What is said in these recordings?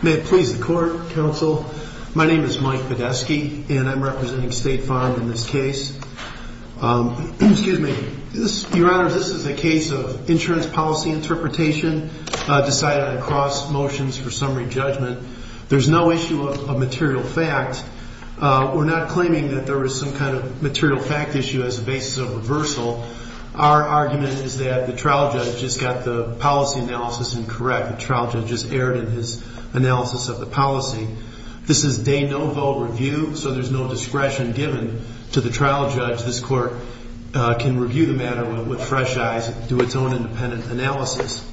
May it please the Court, Counsel. My name is Mike Badesky, and I'm representing State Farm in this case. Excuse me. Your Honor, this is a case of insurance policy interpretation decided on cross motions for summary judgment. There's no issue of material fact. We're not claiming that there was some kind of material fact issue as a basis of reversal. Our argument is that the trial judge just got the policy analysis incorrect. The trial judge just erred in his analysis of the policy. This is de novo review, so there's no discretion given to the trial judge. This Court can review the matter with fresh eyes and do its own independent analysis.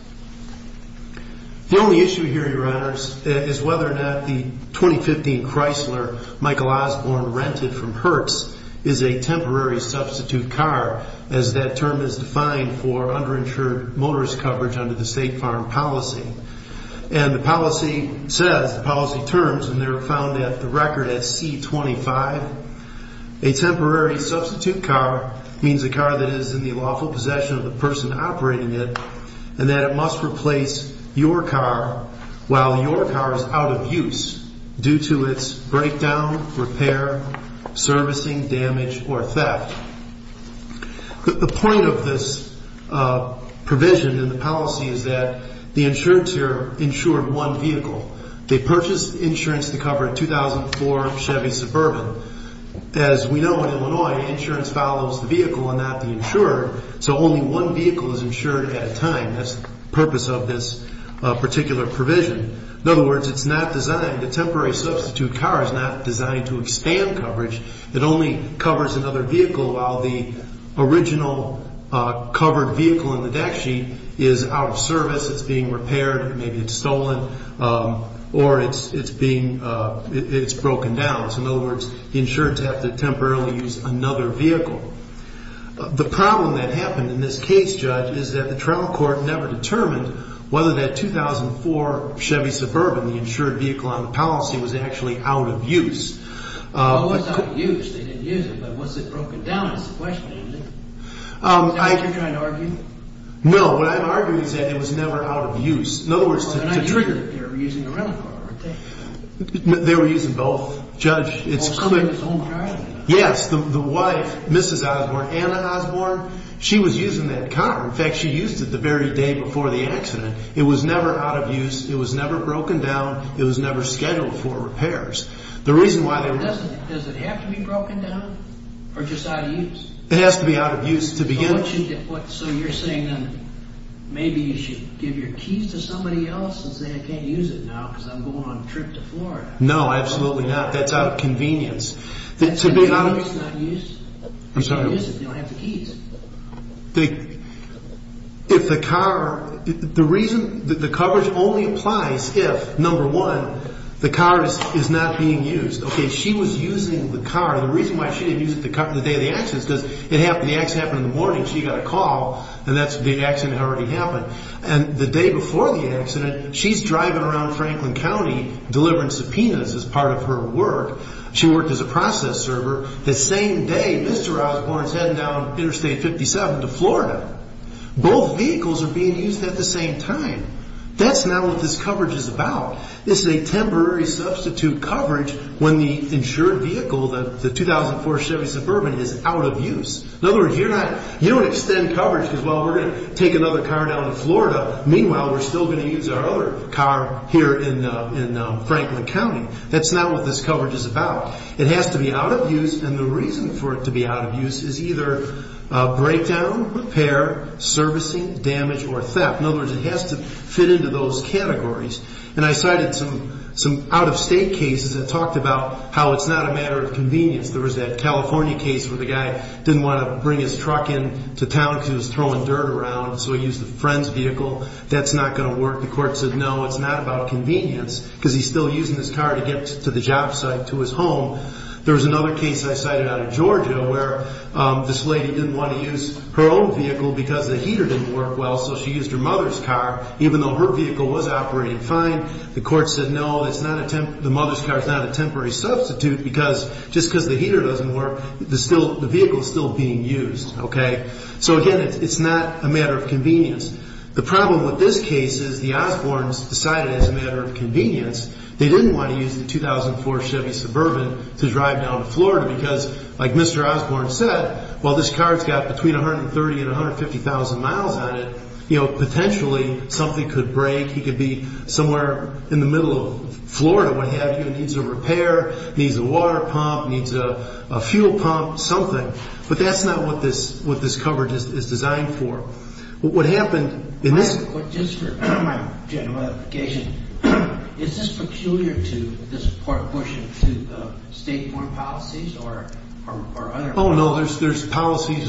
The only issue here, Your Honors, is whether or not the 2015 Chrysler Michael Osborne rented from Hertz is a temporary substitute car, as that term is defined for underinsured motorist coverage under the State Farm policy. And the policy says, the policy terms, and they're found at the record at C-25, a temporary substitute car means a car that is in the lawful possession of the person operating it and that it must replace your car while your car is out of use due to its breakdown, repair, servicing, damage, or theft. The point of this provision in the policy is that the insurance here insured one vehicle. They purchased insurance to cover a 2004 Chevy Suburban. As we know in Illinois, insurance follows the vehicle and not the insurer, so only one vehicle is insured at a time. That's the purpose of this particular provision. In other words, it's not designed, the temporary substitute car is not designed to expand coverage. It only covers another vehicle while the original covered vehicle in the deck sheet is out of service, it's being repaired, maybe it's stolen, or it's being, it's broken down. So in other words, the insurance has to temporarily use another vehicle. The problem that happened in this case, Judge, is that the trial court never determined whether that 2004 Chevy Suburban, the insured vehicle on the policy, was actually out of use. Why was it out of use? They didn't use it, but was it broken down is the question, isn't it? Is that what you're trying to argue? No, what I'm arguing is that it was never out of use. In other words, to trigger. They were using the rental car, weren't they? They were using both, Judge. Both Suburban and his own car? Yes, the wife, Mrs. Osborne, Anna Osborne, she was using that car. In fact, she used it the very day before the accident. It was never out of use, it was never broken down, it was never scheduled for repairs. Does it have to be broken down, or just out of use? It has to be out of use to begin with. So you're saying then, maybe you should give your keys to somebody else and say, I can't use it now because I'm going on a trip to Florida. No, absolutely not. That's out of convenience. The car is not used? I'm sorry? They don't use it, they don't have the keys. If the car, the reason, the coverage only applies if, number one, the car is not being used. Okay, she was using the car. The reason why she didn't use it the day of the accident is because the accident happened in the morning, she got a call, and that's the accident that already happened. And the day before the accident, she's driving around Franklin County delivering subpoenas as part of her work. She worked as a process server. The same day, Mr. Osborne is heading down Interstate 57 to Florida. Both vehicles are being used at the same time. That's not what this coverage is about. This is a temporary substitute coverage when the insured vehicle, the 2004 Chevy Suburban, is out of use. In other words, you don't extend coverage because, well, we're going to take another car down to Florida. Meanwhile, we're still going to use our other car here in Franklin County. That's not what this coverage is about. It has to be out of use, and the reason for it to be out of use is either breakdown, repair, servicing, damage, or theft. In other words, it has to fit into those categories. And I cited some out-of-state cases that talked about how it's not a matter of convenience. There was that California case where the guy didn't want to bring his truck into town because he was throwing dirt around, so he used a friend's vehicle. That's not going to work. The court said, no, it's not about convenience because he's still using his car to get to the job site, to his home. There was another case I cited out of Georgia where this lady didn't want to use her own vehicle because the heater didn't work well, so she used her mother's car even though her vehicle was operating fine. The court said, no, the mother's car is not a temporary substitute because just because the heater doesn't work, the vehicle is still being used. So, again, it's not a matter of convenience. The problem with this case is the Osbournes decided it was a matter of convenience. They didn't want to use the 2004 Chevy Suburban to drive down to Florida because, like Mr. Osbourne said, while this car's got between 130,000 and 150,000 miles on it, potentially something could break. He could be somewhere in the middle of Florida, what have you. It needs a repair. It needs a water pump. It needs a fuel pump, something. But that's not what this coverage is designed for. What happened in this – Just for my general education, is this peculiar to this court pushing to state-borne policies or other – Oh, no, there's policies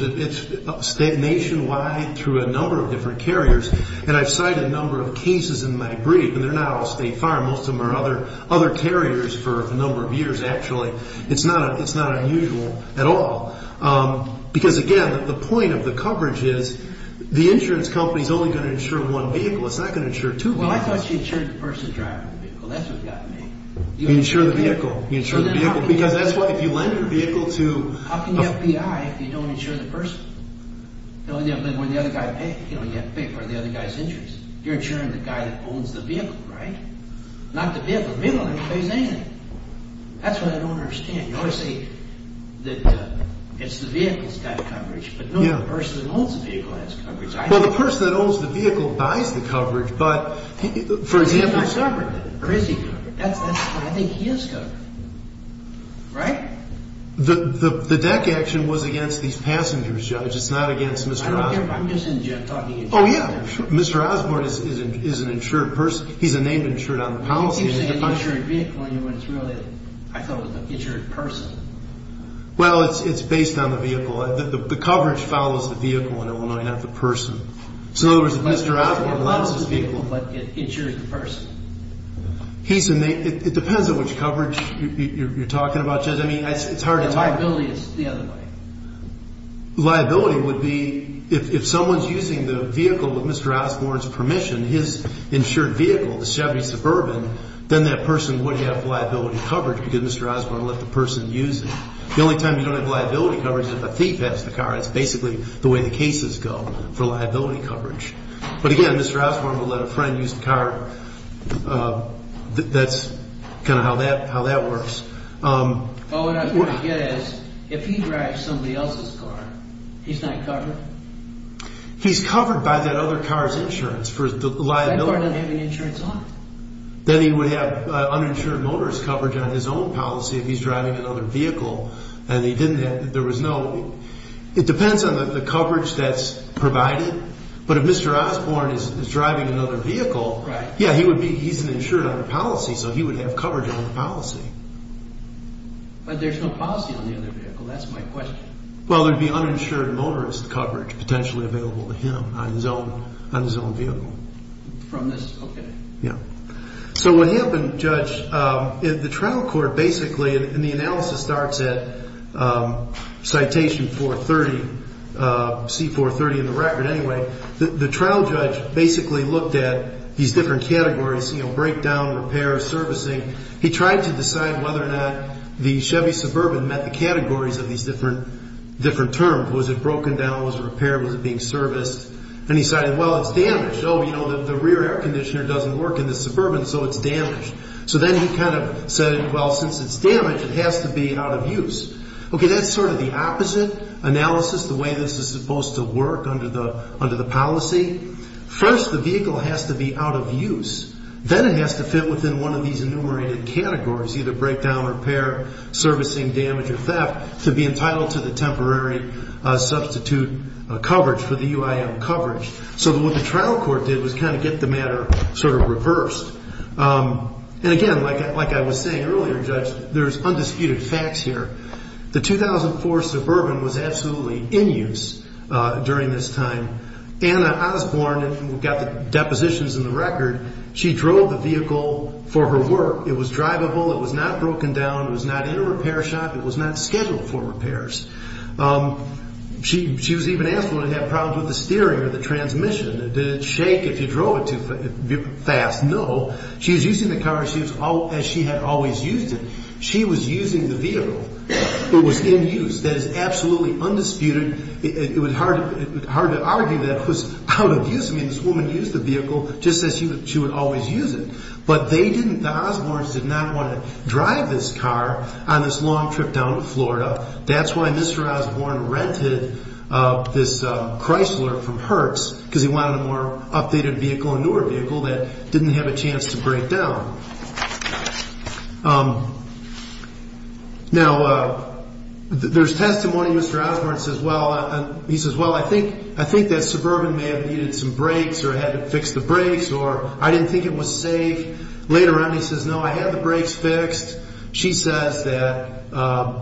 nationwide through a number of different carriers. And I've cited a number of cases in my brief, and they're not all State Farm. Most of them are other carriers for a number of years, actually. It's not unusual at all. Because, again, the point of the coverage is the insurance company is only going to insure one vehicle. It's not going to insure two vehicles. Well, I thought she insured the person driving the vehicle. That's what got me. You insure the vehicle. You insure the vehicle. Because that's what – if you lend your vehicle to – How can you have PI if you don't insure the person? When the other guy pays, you don't have to pay for the other guy's insurance. You're insuring the guy that owns the vehicle, right? Not the vehicle. The vehicle doesn't pay anything. That's what I don't understand. You always say that it's the vehicle that's got coverage. But no, the person that owns the vehicle has coverage. Well, the person that owns the vehicle buys the coverage. But, for example – He's not covered. Or is he covered? I think he is covered. Right? The deck action was against these passengers, Judge. It's not against Mr. Osborne. I don't care. I'm just talking insurance. Oh, yeah. Mr. Osborne is an insured person. He's a named insured on the policy. He keeps saying insured vehicle, and you went through it. I thought it was an insured person. Well, it's based on the vehicle. The coverage follows the vehicle in Illinois, not the person. So, there's Mr. Osborne that owns this vehicle. It follows the vehicle, but it insures the person. It depends on which coverage you're talking about, Judge. I mean, it's hard to tell. Liability is the other way. Liability would be if someone's using the vehicle with Mr. Osborne's permission, his insured vehicle, the Chevy Suburban, then that person would have liability coverage because Mr. Osborne let the person use it. The only time you don't have liability coverage is if a thief has the car. That's basically the way the cases go for liability coverage. But, again, Mr. Osborne will let a friend use the car. That's kind of how that works. All I'm trying to get at is if he drives somebody else's car, he's not covered? He's covered by that other car's insurance for the liability. That car doesn't have any insurance on it. Then he would have uninsured motorist coverage on his own policy if he's driving another vehicle. It depends on the coverage that's provided. But if Mr. Osborne is driving another vehicle, yeah, he's insured on the policy, so he would have coverage on the policy. But there's no policy on the other vehicle. That's my question. Well, there would be uninsured motorist coverage potentially available to him on his own vehicle. From this? Okay. Yeah. So what happened, Judge, the trial court basically, and the analysis starts at Citation 430, C430 in the record, anyway, the trial judge basically looked at these different categories, you know, breakdown, repair, servicing. He tried to decide whether or not the Chevy Suburban met the categories of these different terms. Was it broken down? Was it repaired? Was it being serviced? And he decided, well, it's damaged. Oh, you know, the rear air conditioner doesn't work in the Suburban, so it's damaged. So then he kind of said, well, since it's damaged, it has to be out of use. Okay, that's sort of the opposite analysis, the way this is supposed to work under the policy. First, the vehicle has to be out of use. Then it has to fit within one of these enumerated categories, either breakdown, repair, servicing, damage, or theft, to be entitled to the temporary substitute coverage for the UIM coverage. So what the trial court did was kind of get the matter sort of reversed. And again, like I was saying earlier, Judge, there's undisputed facts here. The 2004 Suburban was absolutely in use during this time. Anna Osborne, who got the depositions in the record, she drove the vehicle for her work. It was drivable. It was not broken down. It was not in a repair shop. It was not scheduled for repairs. She was even asked whether it had problems with the steering or the transmission. Did it shake if you drove it too fast? No. She was using the car as she had always used it. She was using the vehicle. It was in use. That is absolutely undisputed. It would be hard to argue that it was out of use. I mean, this woman used the vehicle just as she would always use it. But they didn't, the Osbornes did not want to drive this car on this long trip down to Florida. That's why Mr. Osborne rented this Chrysler from Hertz, because he wanted a more updated vehicle, a newer vehicle that didn't have a chance to break down. Now, there's testimony Mr. Osborne says, well, I think that Suburban may have needed some brakes or had to fix the brakes, or I didn't think it was safe. Later on he says, no, I had the brakes fixed. She says that,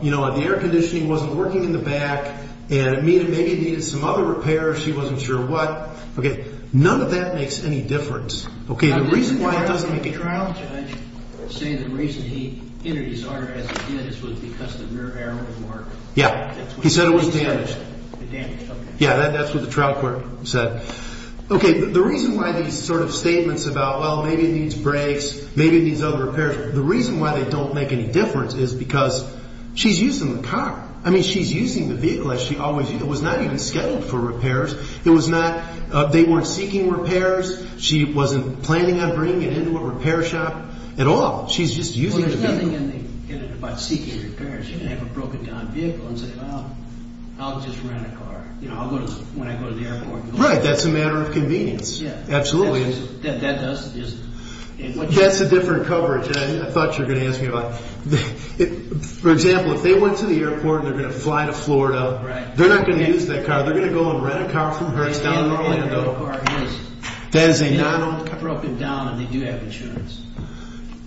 you know, the air conditioning wasn't working in the back, and maybe it needed some other repairs. She wasn't sure what. Okay, none of that makes any difference. Okay, the reason why it doesn't make a trial. The reason he entered his order as he did was because the rear arrow didn't work. Yeah, he said it was damaged. Damaged, okay. Yeah, that's what the trial court said. Okay, the reason why these sort of statements about, well, maybe it needs brakes, maybe it needs other repairs. The reason why they don't make any difference is because she's using the car. I mean, she's using the vehicle as she always used. It was not even scheduled for repairs. It was not, they weren't seeking repairs. She wasn't planning on bringing it into a repair shop at all. She's just using the vehicle. Well, there's nothing in it about seeking repairs. You can have a broken down vehicle and say, well, I'll just rent a car. You know, I'll go to, when I go to the airport. Right, that's a matter of convenience. Yeah. Absolutely. That's a different coverage. I thought you were going to ask me about it. For example, if they went to the airport and they're going to fly to Florida, they're not going to use that car. They're going to go and rent a car from Hertz down in Orlando. That is a non-owned car. If it's broken down and they do have insurance.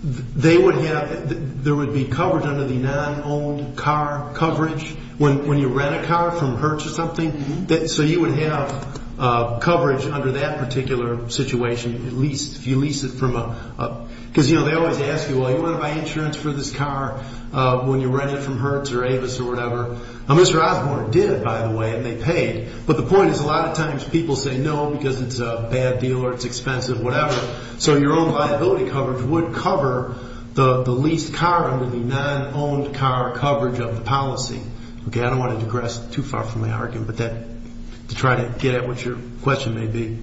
They would have, there would be coverage under the non-owned car coverage when you rent a car from Hertz or something. So you would have coverage under that particular situation, at least, if you lease it from a, because, you know, they always ask you, well, do you want to buy insurance for this car when you rent it from Hertz or Avis or whatever. Mr. Osborne did, by the way, and they paid. But the point is a lot of times people say no because it's a bad deal or it's expensive, whatever. So your own liability coverage would cover the leased car under the non-owned car coverage of the policy. Okay, I don't want to digress too far from my argument, but to try to get at what your question may be.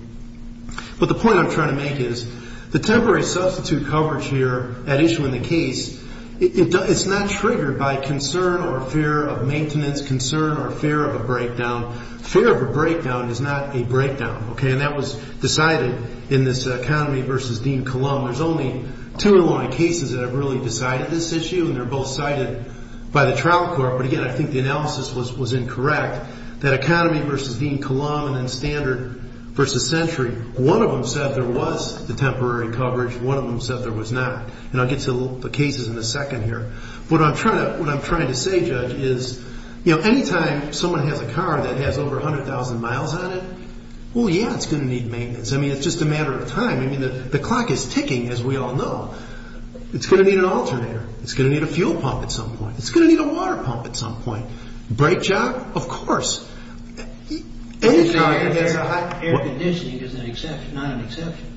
But the point I'm trying to make is the temporary substitute coverage here at issue in the case, it's not triggered by concern or fear of maintenance, concern or fear of a breakdown. Fear of a breakdown is not a breakdown, okay, and that was decided in this economy versus Dean Colon. There's only two cases that have really decided this issue and they're both cited by the trial court. But, again, I think the analysis was incorrect. That economy versus Dean Colon and standard versus century, one of them said there was the temporary coverage, one of them said there was not. And I'll get to the cases in a second here. What I'm trying to say, Judge, is anytime someone has a car that has over 100,000 miles on it, well, yeah, it's going to need maintenance. I mean, it's just a matter of time. I mean, the clock is ticking, as we all know. It's going to need an alternator. It's going to need a fuel pump at some point. It's going to need a water pump at some point. Brake job, of course. Air conditioning is an exception, not an exception.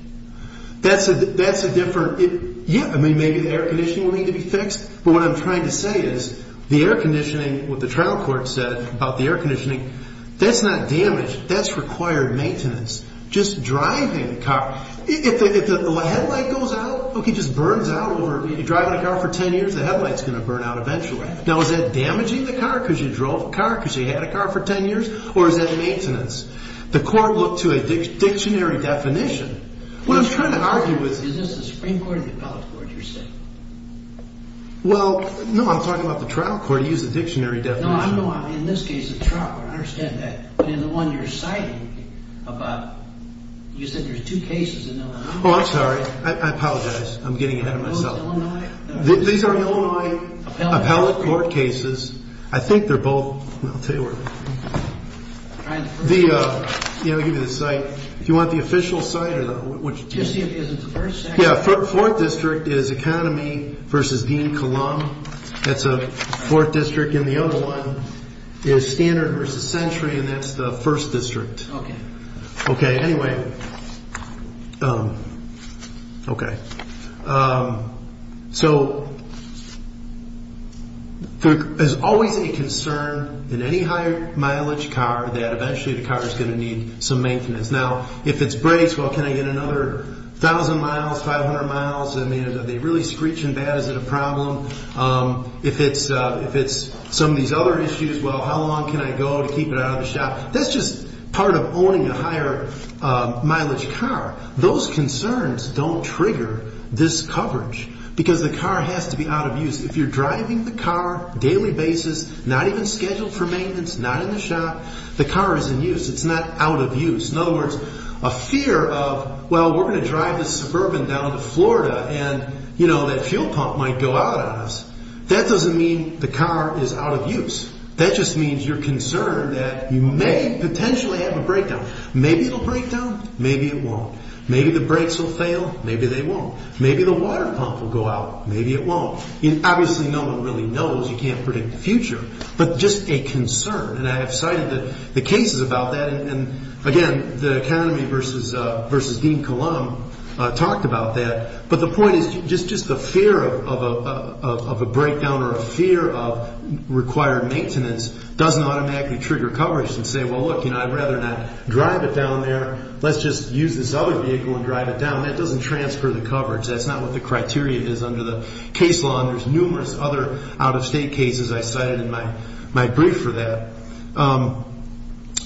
That's a different. Yeah, I mean, maybe the air conditioning will need to be fixed. But what I'm trying to say is the air conditioning, what the trial court said about the air conditioning, that's not damage. That's required maintenance. Just driving the car. If the headlight goes out, it just burns out. If you're driving a car for 10 years, the headlight's going to burn out eventually. Now, is that damaging the car because you drove the car, because you had a car for 10 years, or is that maintenance? The court looked to a dictionary definition. What I'm trying to argue is... Is this the Supreme Court or the appellate court, you're saying? Well, no, I'm talking about the trial court. You used the dictionary definition. No, I'm talking about, in this case, the trial court. I understand that. But in the one you're citing, you said there's two cases. Oh, I'm sorry. I apologize. I'm getting ahead of myself. Those Illinois... These are Illinois appellate court cases. I think they're both... I'll tell you where... I'll give you the site. If you want the official site... Just see if it's in the first section. Yeah, 4th District is Economy v. Dean-Columb. That's 4th District. And the other one is Standard v. Century, and that's the 1st District. Okay. Okay, anyway. Okay. So there's always a concern in any higher mileage car that eventually the car is going to need some maintenance. Now, if it's brakes, well, can I get another 1,000 miles, 500 miles? I mean, are they really screeching bad? Is it a problem? If it's some of these other issues, well, how long can I go to keep it out of the shop? That's just part of owning a higher mileage car. Those concerns don't trigger this coverage because the car has to be out of use. If you're driving the car daily basis, not even scheduled for maintenance, not in the shop, the car is in use. It's not out of use. In other words, a fear of, well, we're going to drive this Suburban down to Florida, and, you know, that fuel pump might go out on us. That doesn't mean the car is out of use. That just means you're concerned that you may potentially have a breakdown. Maybe it will break down. Maybe it won't. Maybe the brakes will fail. Maybe they won't. Maybe the water pump will go out. Maybe it won't. Obviously, no one really knows. You can't predict the future. But just a concern, and I have cited the cases about that. And, again, the economy versus Dean Cullum talked about that. But the point is just the fear of a breakdown or a fear of required maintenance doesn't automatically trigger coverage and say, well, look, you know, I'd rather not drive it down there. Let's just use this other vehicle and drive it down. That doesn't transfer the coverage. That's not what the criteria is under the case law. And there's numerous other out-of-state cases I cited in my brief for that.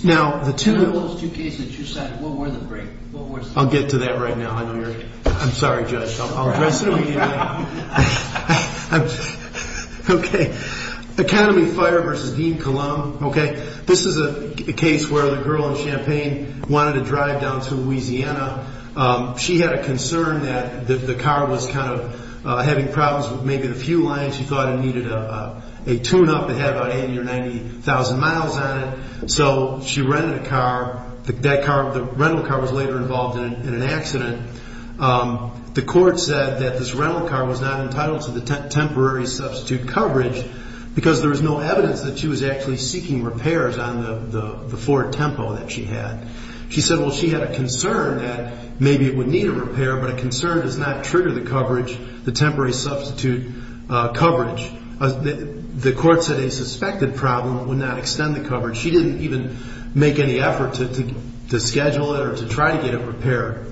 Now, the two... Out of those two cases you cited, what were the three? I'll get to that right now. I know you're... I'm sorry, Judge. I'll address it immediately. Okay. Economy fire versus Dean Cullum. Okay. This is a case where the girl in Champaign wanted to drive down to Louisiana. She had a concern that the car was kind of having problems with maybe the fuel line. She thought it needed a tune-up that had about 80,000 or 90,000 miles on it. So she rented a car. The rental car was later involved in an accident. The court said that this rental car was not entitled to the temporary substitute coverage because there was no evidence that she was actually seeking repairs on the Ford Tempo that she had. She said, well, she had a concern that maybe it would need a repair, but a concern does not trigger the coverage, the temporary substitute coverage. She didn't even make any effort to schedule it or to try to get it repaired.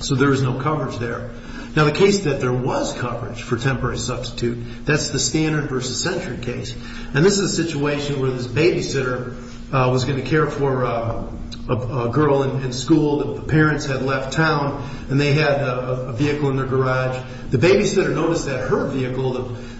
So there was no coverage there. Now, the case that there was coverage for temporary substitute, that's the standard versus century case. And this is a situation where this babysitter was going to care for a girl in school. The parents had left town, and they had a vehicle in their garage. The babysitter noticed that her vehicle,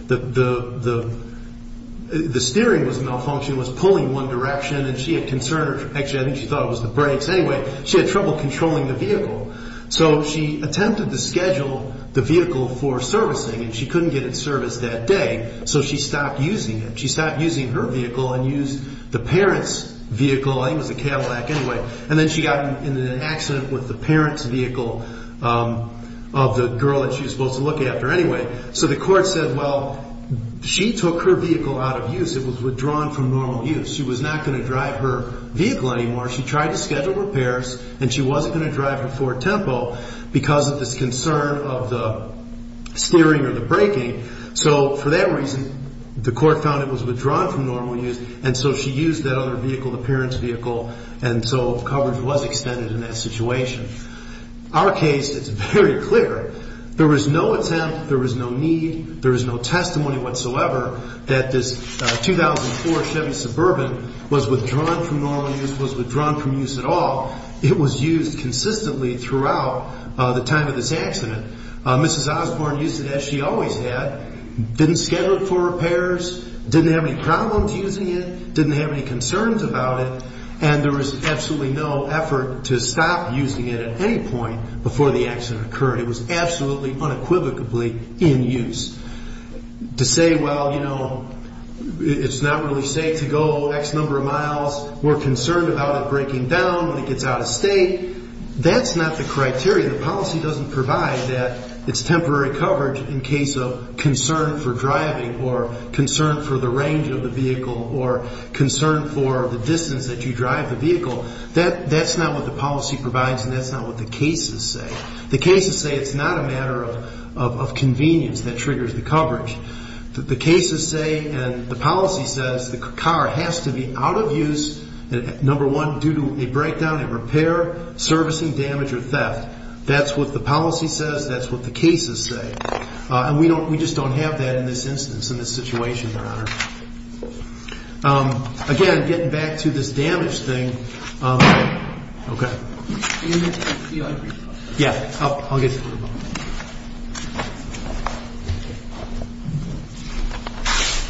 the steering was malfunctioning, was pulling one direction, and she had concern. Actually, I think she thought it was the brakes. Anyway, she had trouble controlling the vehicle. So she attempted to schedule the vehicle for servicing, and she couldn't get it serviced that day. So she stopped using it. She stopped using her vehicle and used the parents' vehicle. I think it was a Cadillac anyway. And then she got into an accident with the parents' vehicle of the girl that she was supposed to look after anyway. So the court said, well, she took her vehicle out of use. It was withdrawn from normal use. She was not going to drive her vehicle anymore. She tried to schedule repairs, and she wasn't going to drive her Ford Tempo because of this concern of the steering or the braking. So for that reason, the court found it was withdrawn from normal use, and so she used that other vehicle, the parents' vehicle. And so coverage was extended in that situation. Our case is very clear. There was no attempt, there was no need, there was no testimony whatsoever that this 2004 Chevy Suburban was withdrawn from normal use, was withdrawn from use at all. It was used consistently throughout the time of this accident. Mrs. Osborne used it as she always had, didn't schedule it for repairs, didn't have any problems using it, didn't have any concerns about it, and there was absolutely no effort to stop using it at any point before the accident occurred. It was absolutely unequivocally in use. To say, well, you know, it's not really safe to go X number of miles, we're concerned about it breaking down when it gets out of state, that's not the criteria. The policy doesn't provide that. It's temporary coverage in case of concern for driving or concern for the range of the vehicle or concern for the distance that you drive the vehicle. That's not what the policy provides and that's not what the cases say. The cases say it's not a matter of convenience that triggers the coverage. The cases say and the policy says the car has to be out of use, number one, due to a breakdown in repair, servicing, damage, or theft. That's what the policy says. That's what the cases say. And we just don't have that in this instance, in this situation, Your Honor. Again, getting back to this damage thing. Okay. Yeah, I'll get to you.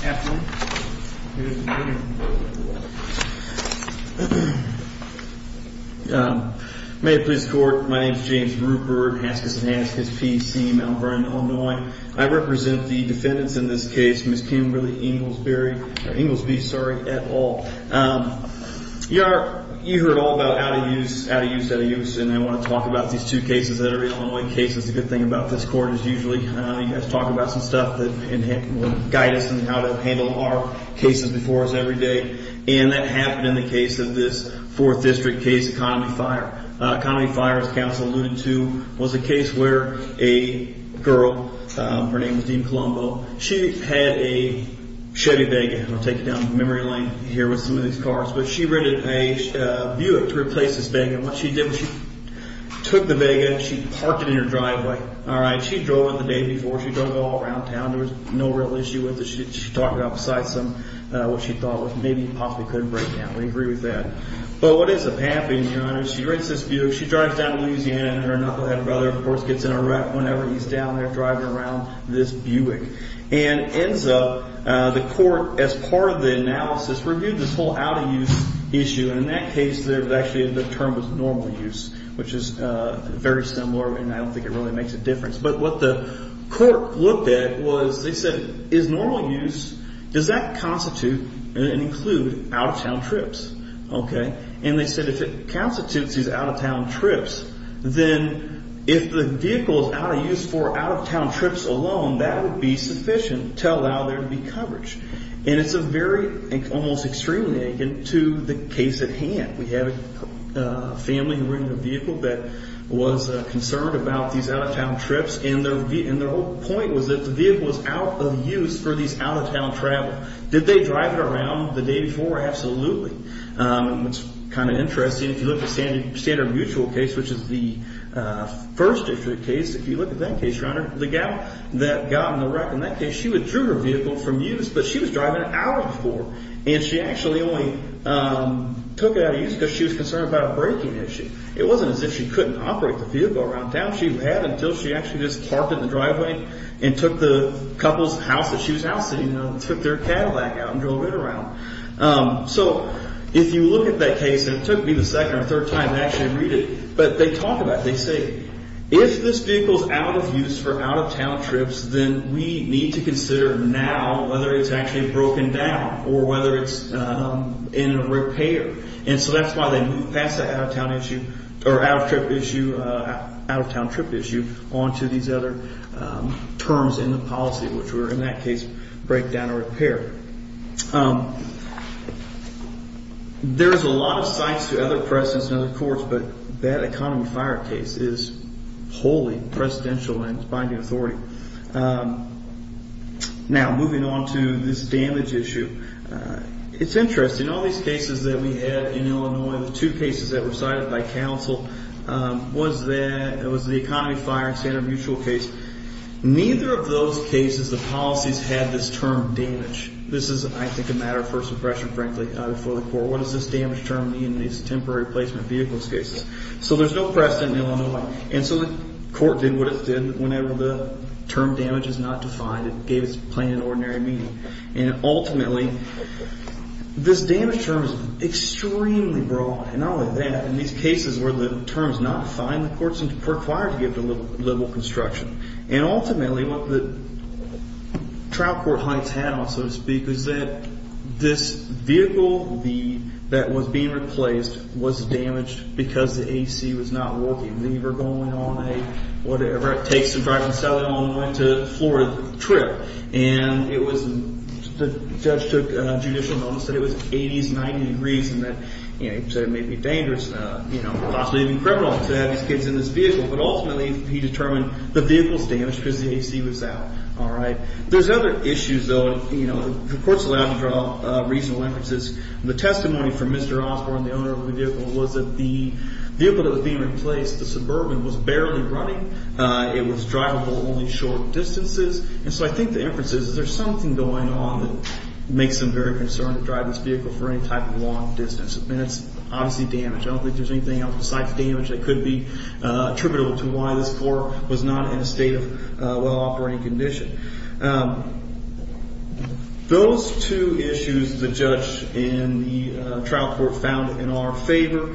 Afternoon. May it please the Court. My name is James Rupert, Haskins & Haskins P.C., Mount Vernon, Illinois. I represent the defendants in this case, Ms. Kimberly Inglesby et al. You heard all about out of use, out of use, out of use, and I want to talk about these two cases that are Illinois cases. The good thing about this court is usually you guys talk about some stuff that will guide us in how to handle our cases before us every day, and that happened in the case of this Fourth District case, Economy Fire. Economy Fire, as counsel alluded to, was a case where a girl, her name was Dean Colombo, she had a Chevy Vega. I'll take you down memory lane here with some of these cars. But she rented a Buick to replace this Vega. And what she did was she took the Vega and she parked it in her driveway. She drove it the day before. She drove it all around town. There was no real issue with it. She talked about besides what she thought was maybe possibly couldn't break down. We agree with that. But what ends up happening, Your Honor, is she rents this Buick. She drives down to Louisiana and her knucklehead brother, of course, gets in a wreck whenever he's down there driving around this Buick. And ends up the court, as part of the analysis, reviewed this whole out of use issue. And in that case, actually the term was normal use, which is very similar, and I don't think it really makes a difference. But what the court looked at was they said is normal use, does that constitute and include out-of-town trips? Okay. And they said if it constitutes these out-of-town trips, then if the vehicle is out of use for out-of-town trips alone, that would be sufficient to allow there to be coverage. And it's a very, almost extremely akin to the case at hand. We have a family who rented a vehicle that was concerned about these out-of-town trips, and their whole point was that the vehicle was out of use for these out-of-town travel. Did they drive it around the day before? Absolutely. And what's kind of interesting, if you look at the standard mutual case, which is the first issue of the case, if you look at that case, Your Honor, the gal that got in the wreck in that case, she withdrew her vehicle from use, but she was driving it out of use before. And she actually only took it out of use because she was concerned about a braking issue. It wasn't as if she couldn't operate the vehicle around town. She had until she actually just parked it in the driveway and took the couple's house that she was now sitting in, took their Cadillac out and drove it around. So if you look at that case, and it took me the second or third time to actually read it, but they talk about it. They say if this vehicle is out of use for out-of-town trips, then we need to consider now whether it's actually broken down or whether it's in a repair. And so that's why they move past the out-of-town issue or out-of-trip issue, out-of-town trip issue onto these other terms in the policy, which were in that case breakdown or repair. There's a lot of sites to other precedents and other courts, but that economy fire case is wholly precedential in its binding authority. Now, moving on to this damage issue, it's interesting. All these cases that we had in Illinois, the two cases that were cited by counsel, was the economy fire and standard mutual case. Neither of those cases, the policies had this term damage. This is, I think, a matter of first impression, frankly, for the court. What does this damage term mean in these temporary placement vehicles cases? So there's no precedent in Illinois. And so the court did what it did. Whenever the term damage is not defined, it gave its plain and ordinary meaning. And ultimately, this damage term is extremely broad. And not only that, in these cases where the term is not defined, the court is required to give the level of construction. And ultimately, what the trial court heights had on, so to speak, was that this vehicle that was being replaced was damaged because the A.C. was not working. They were going on a whatever, takes to drive and sell it on the way to Florida trip. And the judge took judicial notice that it was 80s, 90 degrees, and that it may be dangerous, possibly even criminal, to have these kids in this vehicle. But ultimately, he determined the vehicle is damaged because the A.C. was out. All right. There's other issues, though. The court's allowed to draw reasonable inferences. The testimony from Mr. Osborne, the owner of the vehicle, was that the vehicle that was being replaced, the Suburban, was barely running. It was drivable only short distances. And so I think the inference is there's something going on that makes them very concerned to drive this vehicle for any type of long distance. And it's obviously damage. I don't think there's anything else besides damage that could be attributable to why this car was not in a state of well-operating condition. Those two issues the judge and the trial court found in our favor.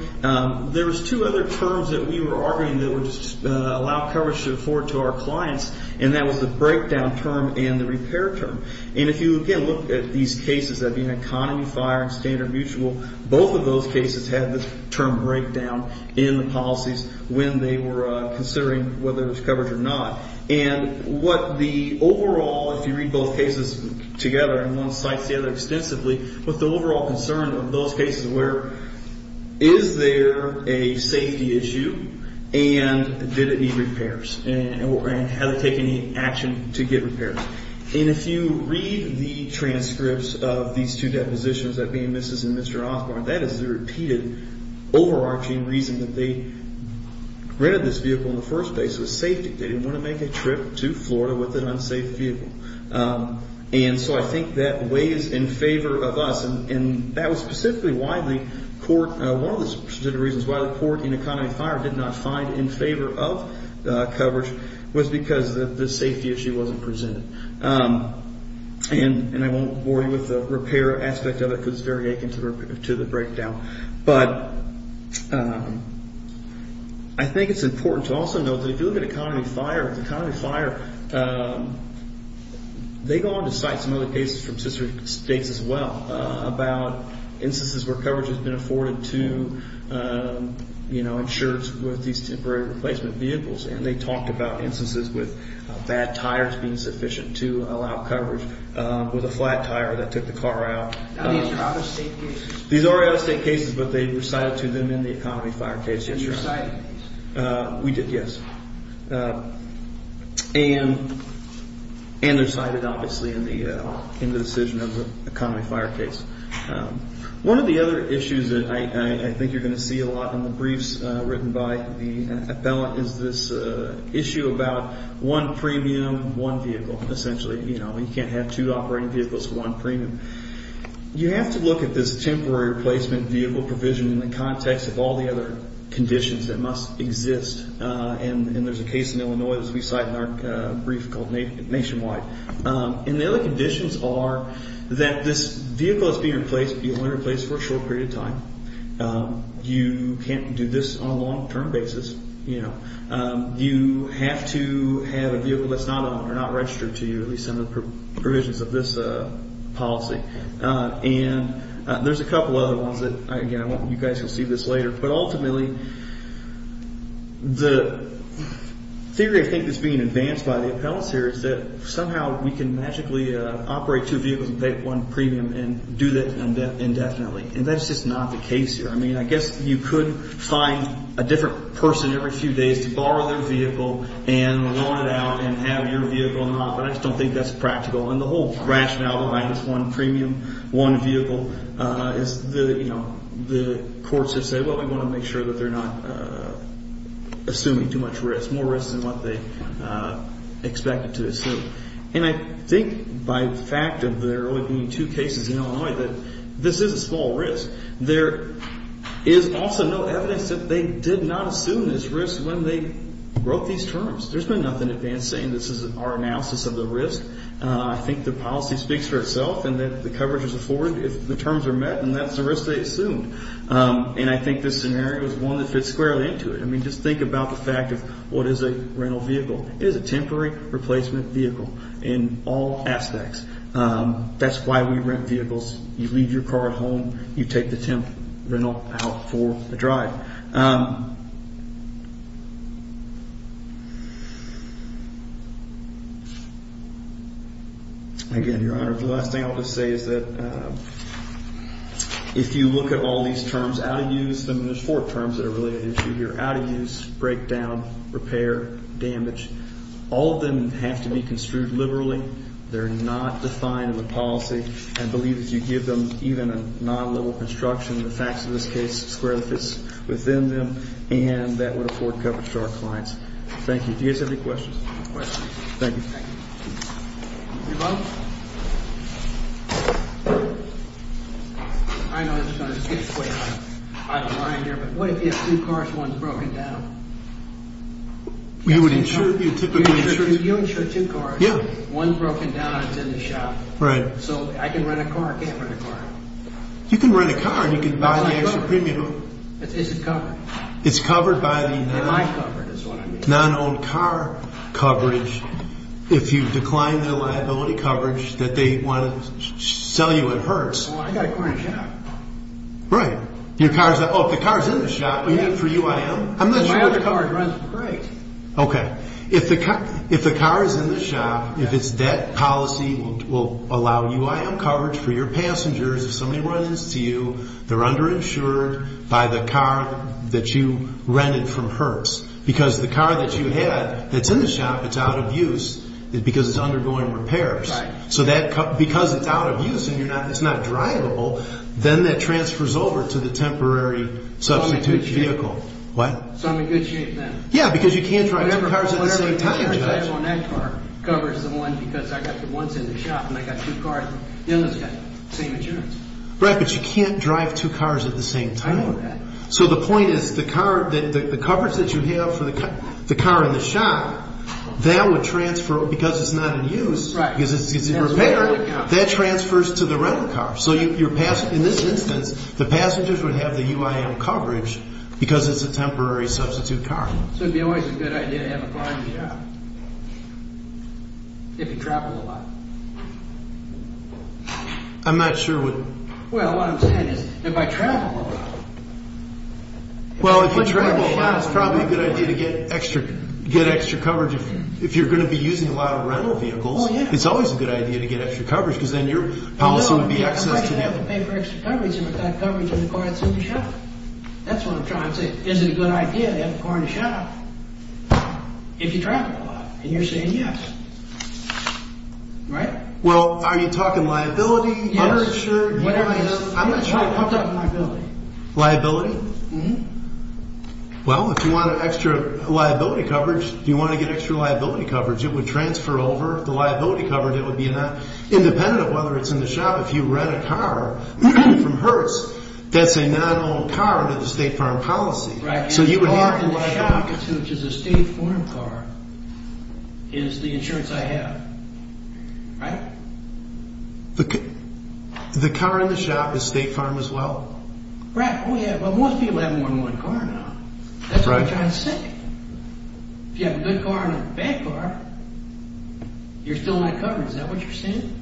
There was two other terms that we were arguing that would allow coverage to afford to our clients, and that was the breakdown term and the repair term. And if you, again, look at these cases, that being economy, fire, and standard mutual, both of those cases had the term breakdown in the policies when they were considering whether there was coverage or not. And what the overall, if you read both cases together and one cites the other extensively, what the overall concern of those cases were is there a safety issue and did it need repairs and has it taken any action to get repairs. And if you read the transcripts of these two depositions, that being Mrs. and Mr. Osborne, that is the repeated overarching reason that they rented this vehicle in the first place was safety. They didn't want to make a trip to Florida with an unsafe vehicle. And so I think that weighs in favor of us, and that was specifically why the court, one of the specific reasons why the court in economy and fire did not find in favor of coverage was because the safety issue wasn't presented. And I won't bore you with the repair aspect of it because it's very akin to the breakdown. But I think it's important to also note that if you look at economy and fire, economy and fire, they go on to cite some other cases from sister states as well about instances where coverage has been afforded to insurers with these temporary replacement vehicles. And they talked about instances with bad tires being sufficient to allow coverage with a flat tire that took the car out. These are out-of-state cases. These are out-of-state cases, but they were cited to them in the economy and fire case. Did you cite it? We did, yes. And they're cited, obviously, in the decision of the economy and fire case. One of the other issues that I think you're going to see a lot in the briefs written by the appellant is this issue about one premium, one vehicle, essentially. You can't have two operating vehicles for one premium. You have to look at this temporary replacement vehicle provision in the context of all the other conditions that must exist. And there's a case in Illinois, as we cite in our brief, called Nationwide. And the other conditions are that this vehicle is being replaced, but you only replace it for a short period of time. You can't do this on a long-term basis. You have to have a vehicle that's not owned or not registered to you, at least under the provisions of this policy. And there's a couple other ones that, again, I want you guys to see this later. But ultimately, the theory I think that's being advanced by the appellants here is that somehow we can magically operate two vehicles and pay one premium and do that indefinitely. And that's just not the case here. I mean, I guess you could find a different person every few days to borrow their vehicle and loan it out and have your vehicle not, but I just don't think that's practical. And the whole rationale behind this one premium, one vehicle is the courts have said, well, we want to make sure that they're not assuming too much risk, more risk than what they expected to assume. And I think by the fact of there only being two cases in Illinois, that this is a small risk. There is also no evidence that they did not assume this risk when they wrote these terms. There's been nothing advanced saying this is our analysis of the risk. I think the policy speaks for itself and that the coverage is afforded if the terms are met and that's the risk they assumed. And I think this scenario is one that fits squarely into it. I mean, just think about the fact of what is a rental vehicle. It is a temporary replacement vehicle in all aspects. That's why we rent vehicles. You leave your car at home. You take the temp rental out for a drive. Again, Your Honor, the last thing I'll just say is that if you look at all these terms, out of use, and there's four terms that are related to here, out of use, breakdown, repair, damage, all of them have to be construed liberally. They're not defined in the policy. I believe if you give them even a non-level construction, the facts of this case squarely fits within them and that would afford coverage to our clients. Thank you. Do you guys have any questions? No questions. Thank you. Thank you. You're welcome. I know this is going to get square. I don't mind here, but what if you have two cars, one's broken down? You would insure two cars. Yeah. One's broken down and it's in the shop. Right. So I can rent a car. I can't rent a car. You can rent a car and you can buy the extra premium. Is it covered? It's covered by the non- Am I covered is what I mean. Non-owned car coverage. If you decline their liability coverage that they want to sell you at Hertz. Well, I've got a car in the shop. Right. Oh, if the car's in the shop, for you I am. My other car runs great. Okay. If the car is in the shop, if it's debt policy will allow you I am coverage for your passengers. If somebody runs to you, they're underinsured by the car that you rented from Hertz. Because the car that you had that's in the shop, it's out of use because it's undergoing repairs. Right. Because it's out of use and it's not drivable, then that transfers over to the temporary substitute vehicle. So I'm in good shape then? Yeah, because you can't drive two cars at the same time. Right, but you can't drive two cars at the same time. I know that. So the point is the car, the coverage that you have for the car in the shop, that would transfer because it's not in use. Right. Because it's in repair, that transfers to the rental car. So in this instance, the passengers would have the UIM coverage because it's a temporary substitute car. So it would be always a good idea to have a car in the shop if you travel a lot. I'm not sure what... Well, what I'm saying is if I travel a lot... Well, if you travel a lot, it's probably a good idea to get extra coverage. If you're going to be using a lot of rental vehicles, it's always a good idea to get extra coverage because then your policy would be access to the other... You don't have to pay for extra coverage if you've got coverage in the car that's in the shop. That's what I'm trying to say. Is it a good idea to have a car in the shop if you travel a lot? And you're saying yes. Right? Well, are you talking liability? Yes. Uninsured? I'm not sure. I'm talking liability. Liability? Mm-hmm. Well, if you want extra liability coverage, if you want to get extra liability coverage, it would transfer over the liability coverage. It would be independent of whether it's in the shop. If you rent a car from Hertz, that's a non-owned car under the State Farm policy. Right. So you would have to... The car in the shop, which is a State Farm car, is the insurance I have. Right? The car in the shop is State Farm as well? Right. Well, most people have more than one car now. That's what I'm trying to say. If you have a good car and a bad car, you're still not covered. Is that what you're saying?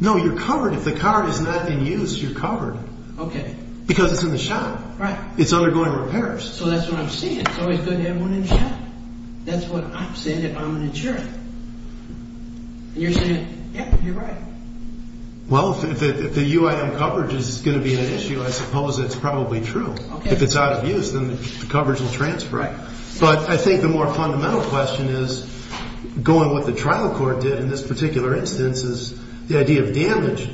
No, you're covered. If the car is not in use, you're covered. Okay. Because it's in the shop. Right. It's undergoing repairs. So that's what I'm saying. It's always good to have one in the shop. That's what I'm saying if I'm an insurer. And you're saying, yeah, you're right. Well, if the UIM coverage is going to be an issue, I suppose it's probably true. Okay. If it's out of use, then the coverage will transfer. Right. But I think the more fundamental question is, going with what the trial court did in this particular instance, is the idea of damage.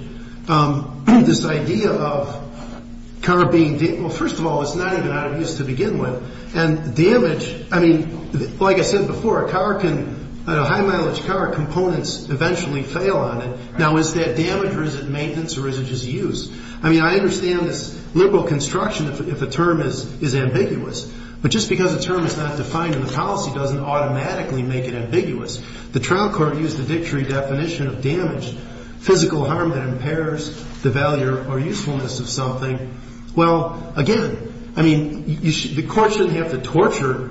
This idea of car being damaged, well, first of all, it's not even out of use to begin with. And damage, I mean, like I said before, a car can, a high mileage car, components eventually fail on it. Now, is that damage or is it maintenance or is it just use? I mean, I understand this liberal construction if the term is ambiguous. But just because a term is not defined in the policy doesn't automatically make it ambiguous. The trial court used the dictionary definition of damage, physical harm that impairs the value or usefulness of something. Well, again, I mean, the court shouldn't have to torture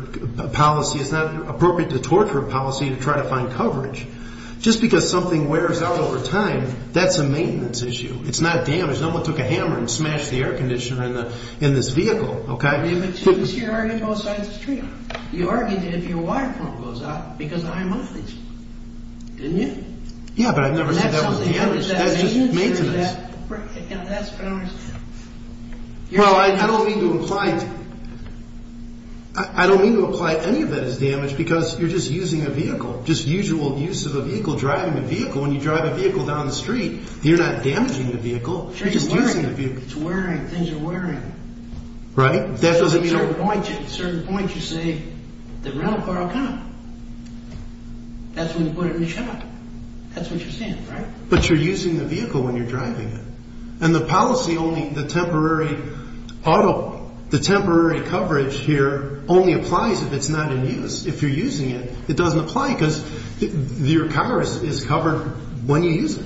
policy. It's not appropriate to torture a policy to try to find coverage. Just because something wears out over time, that's a maintenance issue. It's not damage. No one took a hammer and smashed the air conditioner in this vehicle. But you argued both sides of the street. You argued if your water pump goes out because of high mileage. Didn't you? Yeah, but I've never said that was damage. That's just maintenance. Well, I don't mean to apply any of that as damage because you're just using a vehicle. Just usual use of a vehicle, driving a vehicle. When you drive a vehicle down the street, you're not damaging the vehicle. You're just using the vehicle. It's wearing. Things are wearing. Right? At a certain point, you say the rental car will come. That's when you put it in the shop. That's what you're saying, right? But you're using the vehicle when you're driving it. And the policy only, the temporary auto, the temporary coverage here only applies if it's not in use. If you're using it, it doesn't apply because your car is covered when you use it.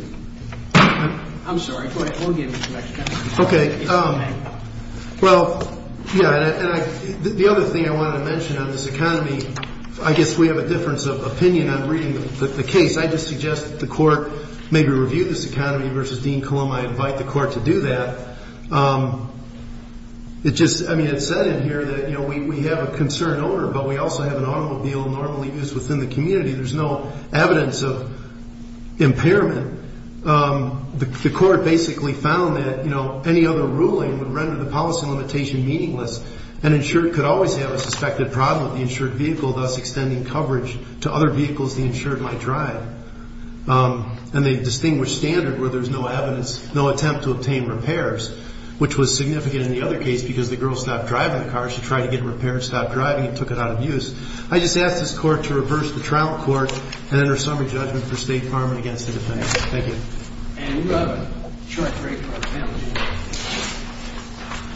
I'm sorry. Go ahead. Okay. Well, yeah. The other thing I wanted to mention on this economy, I guess we have a difference of opinion on reading the case. I just suggest that the court maybe review this economy versus Dean Coloma. I invite the court to do that. I mean, it's said in here that we have a concern over it, but we also have an automobile normally used within the community. There's no evidence of impairment. The court basically found that any other ruling would render the policy limitation meaningless, and insured could always have a suspected problem with the insured vehicle, thus extending coverage to other vehicles the insured might drive. And they distinguished standard where there's no evidence, no attempt to obtain repairs, which was significant in the other case because the girl stopped driving the car. She tried to get it repaired, stopped driving, and took it out of use. I just ask this court to reverse the trial court and enter a summary judgment for State Farm and against the defense. Thank you. And we'll have a short break for our panel.